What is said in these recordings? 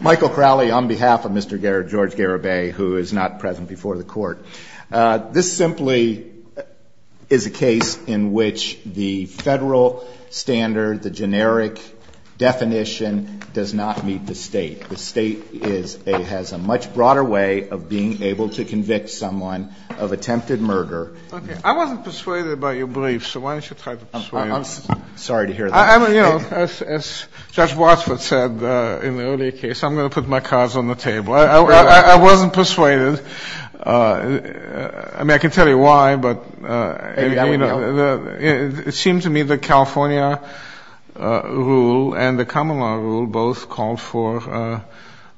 Michael Crowley on behalf of Mr. George Garibay, who is not present before the Court. This simply is a case in which the Federal standard, the generic definition, does not meet the State. The State has a much broader way of being able to convict someone of attempted murder. I wasn't persuaded by your brief, so why don't you try to persuade me? I'm sorry to hear that. I mean, you know, as Judge Wattsford said in the earlier case, I'm going to put my cards on the table. I wasn't persuaded. I mean, I can tell you why, but it seemed to me the California rule and the common law rule both called for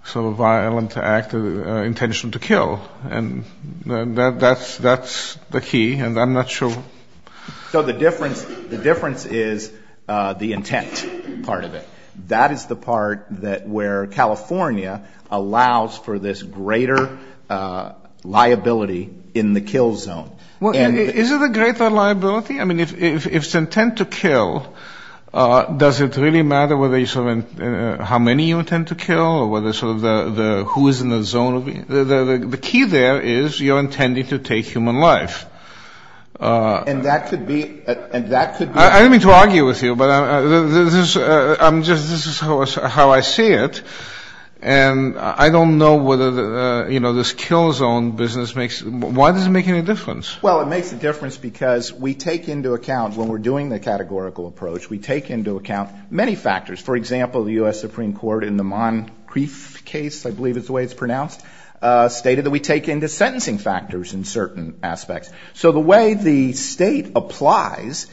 sort of a violent act, an intention to kill, and that's the key, and I'm not sure. So the difference is the intent part of it. That is the part that where California allows for this greater liability in the kill zone. Well, is it a greater liability? I mean, if it's intent to kill, does it really matter whether you sort of how many you intend to kill or whether sort of the who is in the zone? The key there is you're intending to take human life. And that could be. I don't mean to argue with you, but this is how I see it, and I don't know whether, you know, this kill zone business makes. Why does it make any difference? Well, it makes a difference because we take into account when we're doing the categorical approach, we take into account many factors. For example, the U.S. Supreme Court in the Moncrief case, I believe is the way it's pronounced, stated that we take into sentencing factors in certain aspects. So the way the State applies,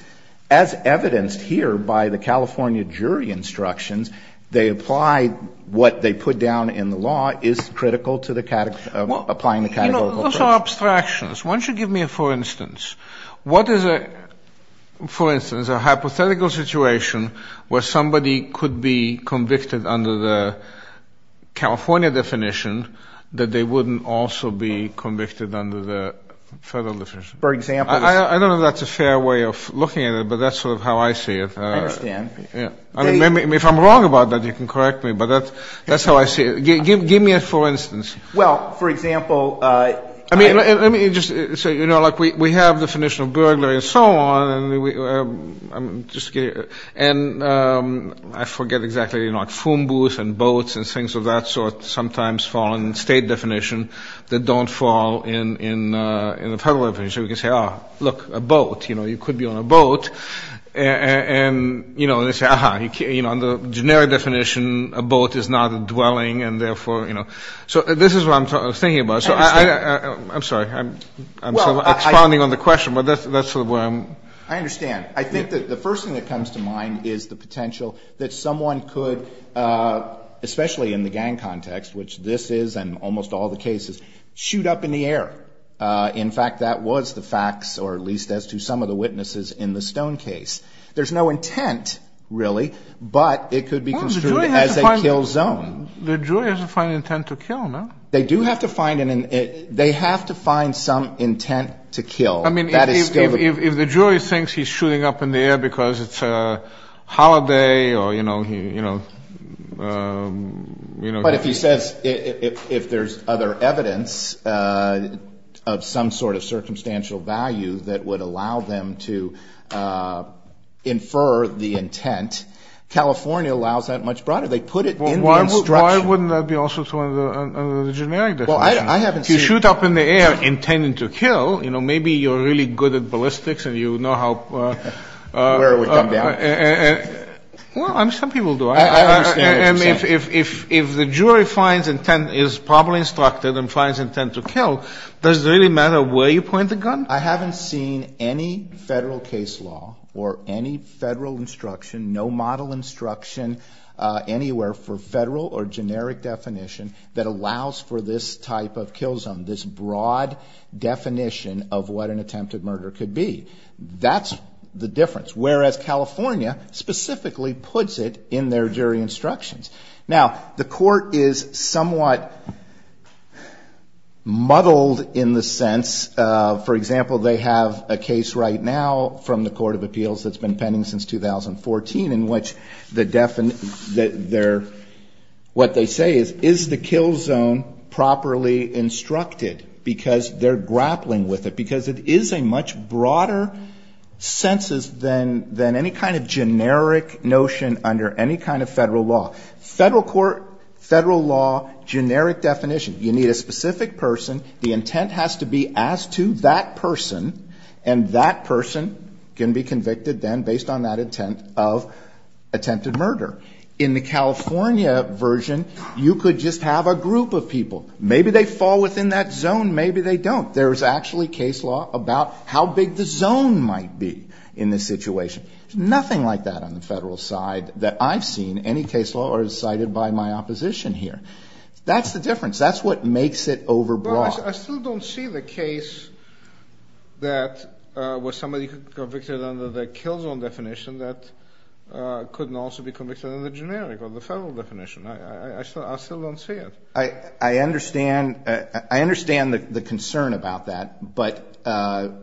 as evidenced here by the California jury instructions, they apply what they put down in the law is critical to applying the categorical approach. You know, those are abstractions. Why don't you give me a for instance? What is, for instance, a hypothetical situation where somebody could be convicted under the California definition that they wouldn't also be convicted under the federal definition? For example? I don't know if that's a fair way of looking at it, but that's sort of how I see it. I understand. If I'm wrong about that, you can correct me, but that's how I see it. Give me a for instance. Well, for example. Let me just say, you know, like we have the definition of burglary and so on, and I forget exactly, you know, like fumbus and boats and things of that sort sometimes fall in the State definition that don't fall in the federal definition. We can say, oh, look, a boat. You know, you could be on a boat. And, you know, they say, aha, you know, under the generic definition, a boat is not a dwelling, and therefore, you know. So this is what I'm thinking about. I'm sorry. I'm sort of expounding on the question, but that's sort of where I'm. I understand. I think that the first thing that comes to mind is the potential that someone could, especially in the gang context, which this is and almost all the cases, shoot up in the air. In fact, that was the facts, or at least as to some of the witnesses in the Stone case. There's no intent, really, but it could be construed as a kill zone. The jury has to find intent to kill, no? They do have to find an intent. They have to find some intent to kill. I mean, if the jury thinks he's shooting up in the air because it's a holiday or, you know. But if he says, if there's other evidence of some sort of circumstantial value that would allow them to infer the intent, California allows that much broader. They put it in the instruction. Why wouldn't that be also true under the generic definition? Well, I haven't seen. If you shoot up in the air intending to kill, you know, maybe you're really good at ballistics and you know how. Where we come down. Well, some people do. I understand what you're saying. And if the jury finds intent, is probably instructed and finds intent to kill, does it really matter where you point the gun? I haven't seen any federal case law or any federal instruction, no model instruction anywhere for federal or generic definition that allows for this type of kill zone, this broad definition of what an attempted murder could be. That's the difference. Whereas California specifically puts it in their jury instructions. Now, the Court is somewhat muddled in the sense of, for example, they have a case right now from the Court of Appeals that's been pending since 2014 in which the definition, what they say is, is the kill zone properly instructed, because they're grappling with it, because it is a much broader census than any kind of generic notion under any kind of federal law. Federal court, federal law, generic definition. You need a specific person. The intent has to be as to that person, and that person can be convicted then based on that intent of attempted murder. In the California version, you could just have a group of people. Maybe they fall within that zone. Maybe they don't. There's actually case law about how big the zone might be in this situation. There's nothing like that on the federal side that I've seen. Any case law is cited by my opposition here. That's the difference. That's what makes it overbroad. Well, I still don't see the case that was somebody convicted under the kill zone definition that couldn't also be convicted under the generic or the federal definition. I still don't see it. I understand the concern about that, but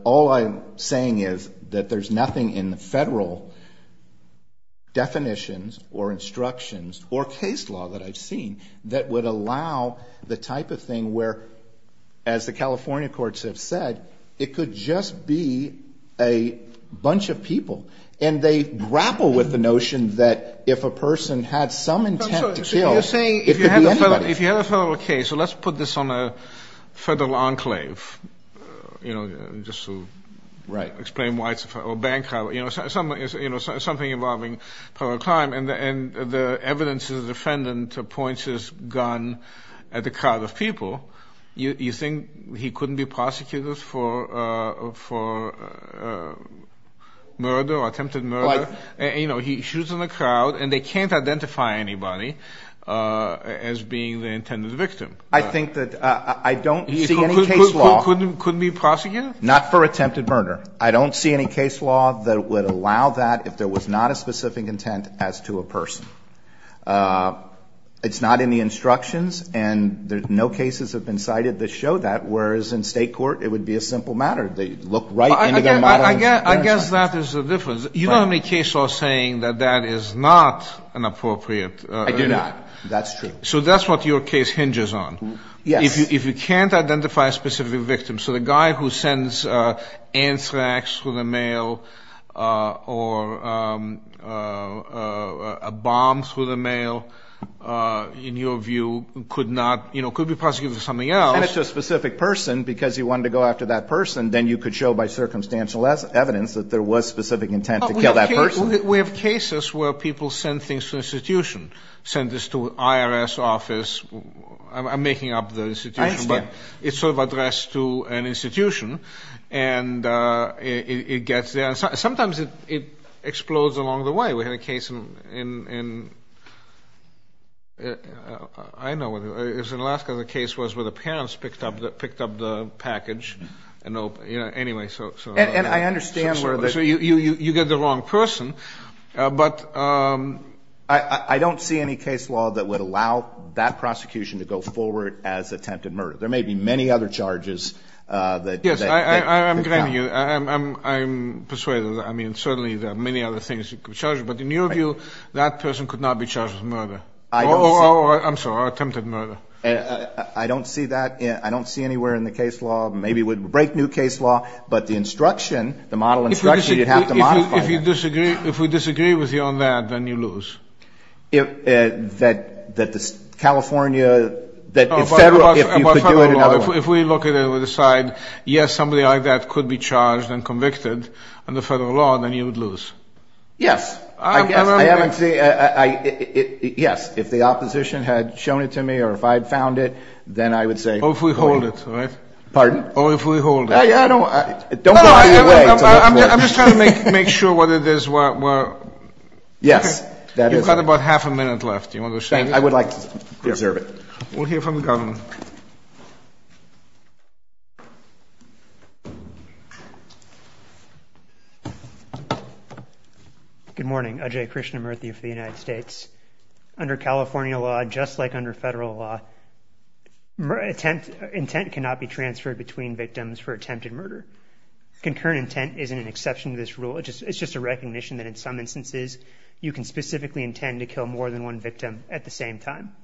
all I'm saying is that there's nothing in the federal definitions or instructions or case law that I've seen that would allow the type of thing where, as the California courts have said, it could just be a bunch of people. And they grapple with the notion that if a person had some intent to kill, it could be anybody. Well, if you have a federal case, so let's put this on a federal enclave, just to explain why it's a federal enclave. It's something involving a crime, and the evidence is the defendant points his gun at a crowd of people. You think he couldn't be prosecuted for murder or attempted murder? He shoots in the crowd, and they can't identify anybody as being the intended victim. I think that I don't see any case law. He couldn't be prosecuted? Not for attempted murder. I don't see any case law that would allow that if there was not a specific intent as to a person. It's not in the instructions, and no cases have been cited that show that, whereas in state court, it would be a simple matter. They look right into their modeling. I guess that is the difference. You don't have any case law saying that that is not an appropriate. I do not. That's true. So that's what your case hinges on. Yes. If you can't identify a specific victim. So the guy who sends anthrax through the mail or a bomb through the mail, in your view, could not, you know, could be prosecuted for something else. Well, if you sent it to a specific person because you wanted to go after that person, then you could show by circumstantial evidence that there was specific intent to kill that person. We have cases where people send things to an institution, send this to an IRS office. I'm making up the institution. I understand. But it's sort of addressed to an institution, and it gets there. Sometimes it explodes along the way. We had a case in Alaska, the case was where the parents picked up the package. Anyway, so. And I understand where the. So you get the wrong person, but. I don't see any case law that would allow that prosecution to go forward as attempted murder. There may be many other charges. Yes, I'm persuading you. I mean, certainly there are many other things you could charge. But in your view, that person could not be charged with murder. Or, I'm sorry, attempted murder. I don't see that. I don't see anywhere in the case law. Maybe it would break new case law, but the instruction, the model instruction, you'd have to modify that. If you disagree, if we disagree with you on that, then you lose. That California, that in Federal, if you could do it in other ways. If we look at it and decide, yes, somebody like that could be charged and convicted under Federal law, then you would lose. Yes. I haven't seen. Yes, if the opposition had shown it to me or if I had found it, then I would say. Or if we hold it, right? Pardon? Or if we hold it. I don't. I'm just trying to make sure what it is. Yes, that is. You've got about half a minute left. I would like to preserve it. We'll hear from the government. Good morning. Ajay Krishnamurthy of the United States. Under California law, just like under Federal law, intent cannot be transferred between victims for attempted murder. Concurrent intent isn't an exception to this rule. It's just a recognition that in some instances, you can specifically intend to kill more than one victim at the same time.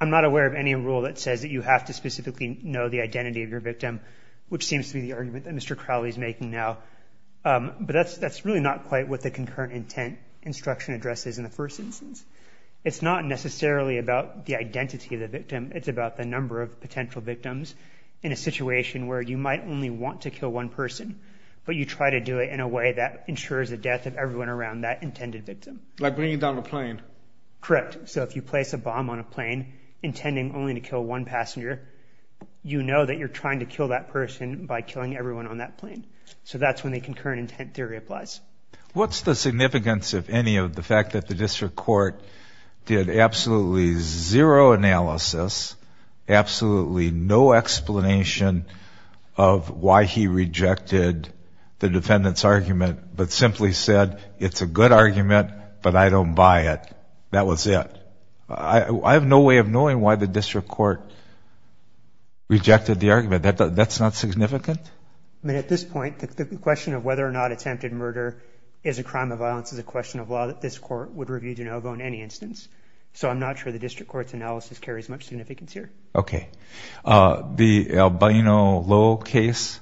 I'm not aware of any rule that says that you have to specifically know the identity of your victim, which seems to be the argument that Mr. Crowley is making now. But that's really not quite what the concurrent intent instruction addresses in the first instance. It's not necessarily about the identity of the victim. It's about the number of potential victims in a situation where you might only want to kill one person. But you try to do it in a way that ensures the death of everyone around that intended victim. Like bringing down a plane. Correct. So if you place a bomb on a plane intending only to kill one passenger, you know that you're trying to kill that person by killing everyone on that plane. So that's when the concurrent intent theory applies. What's the significance, if any, of the fact that the district court did absolutely zero analysis, absolutely no explanation of why he rejected the defendant's argument, but simply said, it's a good argument, but I don't buy it. That was it. I have no way of knowing why the district court rejected the argument. That's not significant? At this point, the question of whether or not attempted murder is a crime of violence is a question of law that this court would review de novo in any instance. So I'm not sure the district court's analysis carries much significance here. Okay. The Albino Lowe case,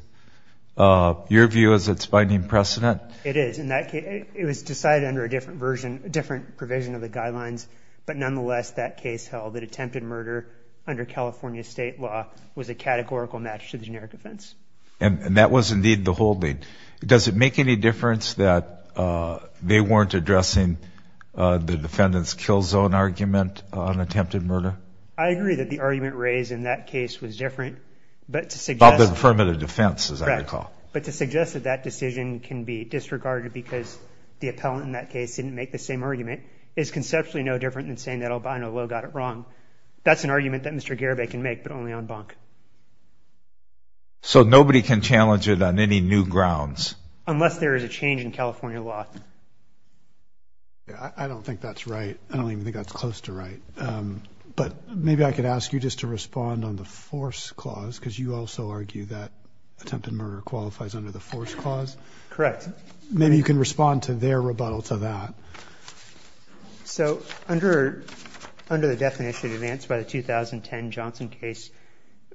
your view is it's binding precedent? It is. It was decided under a different provision of the guidelines. But nonetheless, that case held that attempted murder under California state law was a categorical match to the generic offense. And that was indeed the holding. Does it make any difference that they weren't addressing the defendant's kill zone argument on attempted murder? I agree that the argument raised in that case was different. About the affirmative defense, as I recall. But to suggest that that decision can be disregarded because the appellant in that case didn't make the same argument is conceptually no different than saying that Albino Lowe got it wrong. That's an argument that Mr. Garibay can make, but only on bunk. So nobody can challenge it on any new grounds? Unless there is a change in California law. I don't think that's right. I don't even think that's close to right. But maybe I could ask you just to respond on the force clause, because you also argue that attempted murder qualifies under the force clause. Correct. Maybe you can respond to their rebuttal to that. So under the definition advanced by the 2010 Johnson case,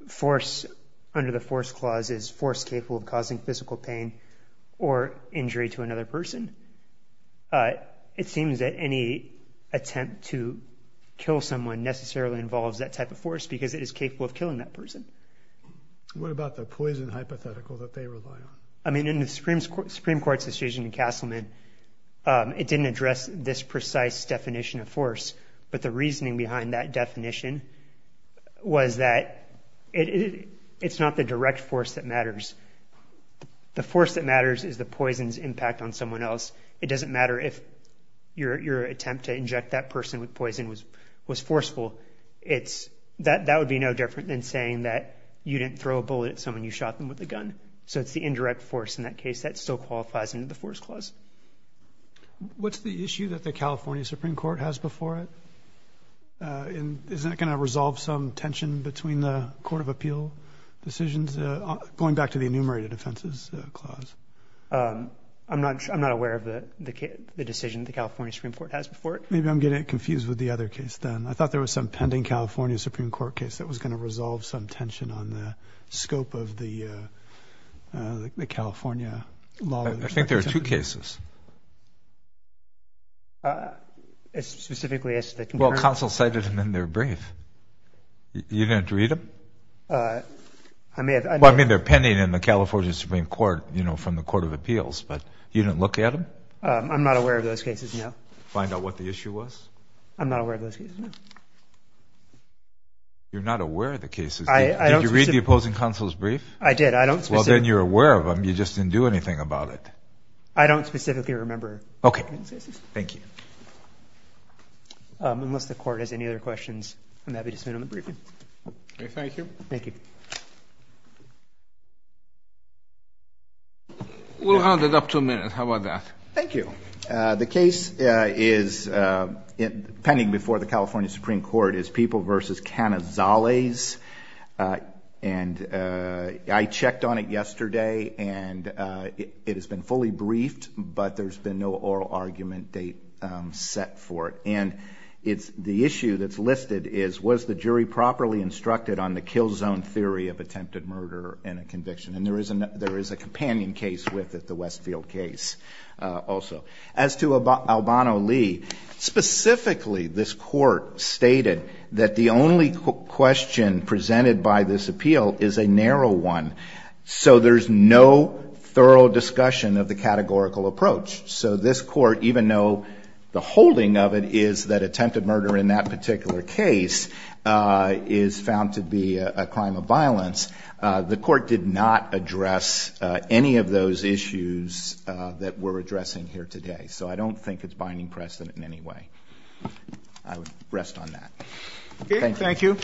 force under the force clause is force capable of causing physical pain or injury to another person. It seems that any attempt to kill someone necessarily involves that type of force because it is capable of killing that person. What about the poison hypothetical that they rely on? I mean, in the Supreme Supreme Court's decision in Castleman, it didn't address this precise definition of force. But the reasoning behind that definition was that it's not the direct force that matters. The force that matters is the poison's impact on someone else. It doesn't matter if your attempt to inject that person with poison was was forceful. It's that that would be no different than saying that you didn't throw a bullet at someone. You shot them with a gun. So it's the indirect force. In that case, that still qualifies in the force clause. What's the issue that the California Supreme Court has before it? And is that going to resolve some tension between the court of appeal decisions? Going back to the enumerated offenses clause, I'm not I'm not aware of the decision. The California Supreme Court has before it. Maybe I'm getting confused with the other case. Then I thought there was some pending California Supreme Court case that was going to resolve some tension on the scope of the California law. I think there are two cases. As specifically as well, counsel cited them in their brief. You didn't read them. I mean, I mean, they're pending in the California Supreme Court, you know, from the court of appeals. But you didn't look at them. I'm not aware of those cases. Find out what the issue was. I'm not aware of those cases. You're not aware of the cases. Did you read the opposing counsel's brief? I did. I don't think you're aware of them. You just didn't do anything about it. I don't specifically remember. OK, thank you. Unless the court has any other questions, I'm happy to sit on the briefing. Thank you. Thank you. We'll have it up to a minute. How about that? Thank you. The case is pending before the California Supreme Court is People v. Canazales. And I checked on it yesterday and it has been fully briefed, but there's been no oral argument date set for it. And it's the issue that's listed is was the jury properly instructed on the kill zone theory of attempted murder and a conviction? And there is a companion case with it, the Westfield case also. As to Albano Lee, specifically this court stated that the only question presented by this appeal is a narrow one. So there's no thorough discussion of the categorical approach. So this court, even though the holding of it is that attempted murder in that particular case is found to be a crime of violence, the court did not address any of those issues that we're addressing here today. So I don't think it's binding precedent in any way. I would rest on that. Thank you.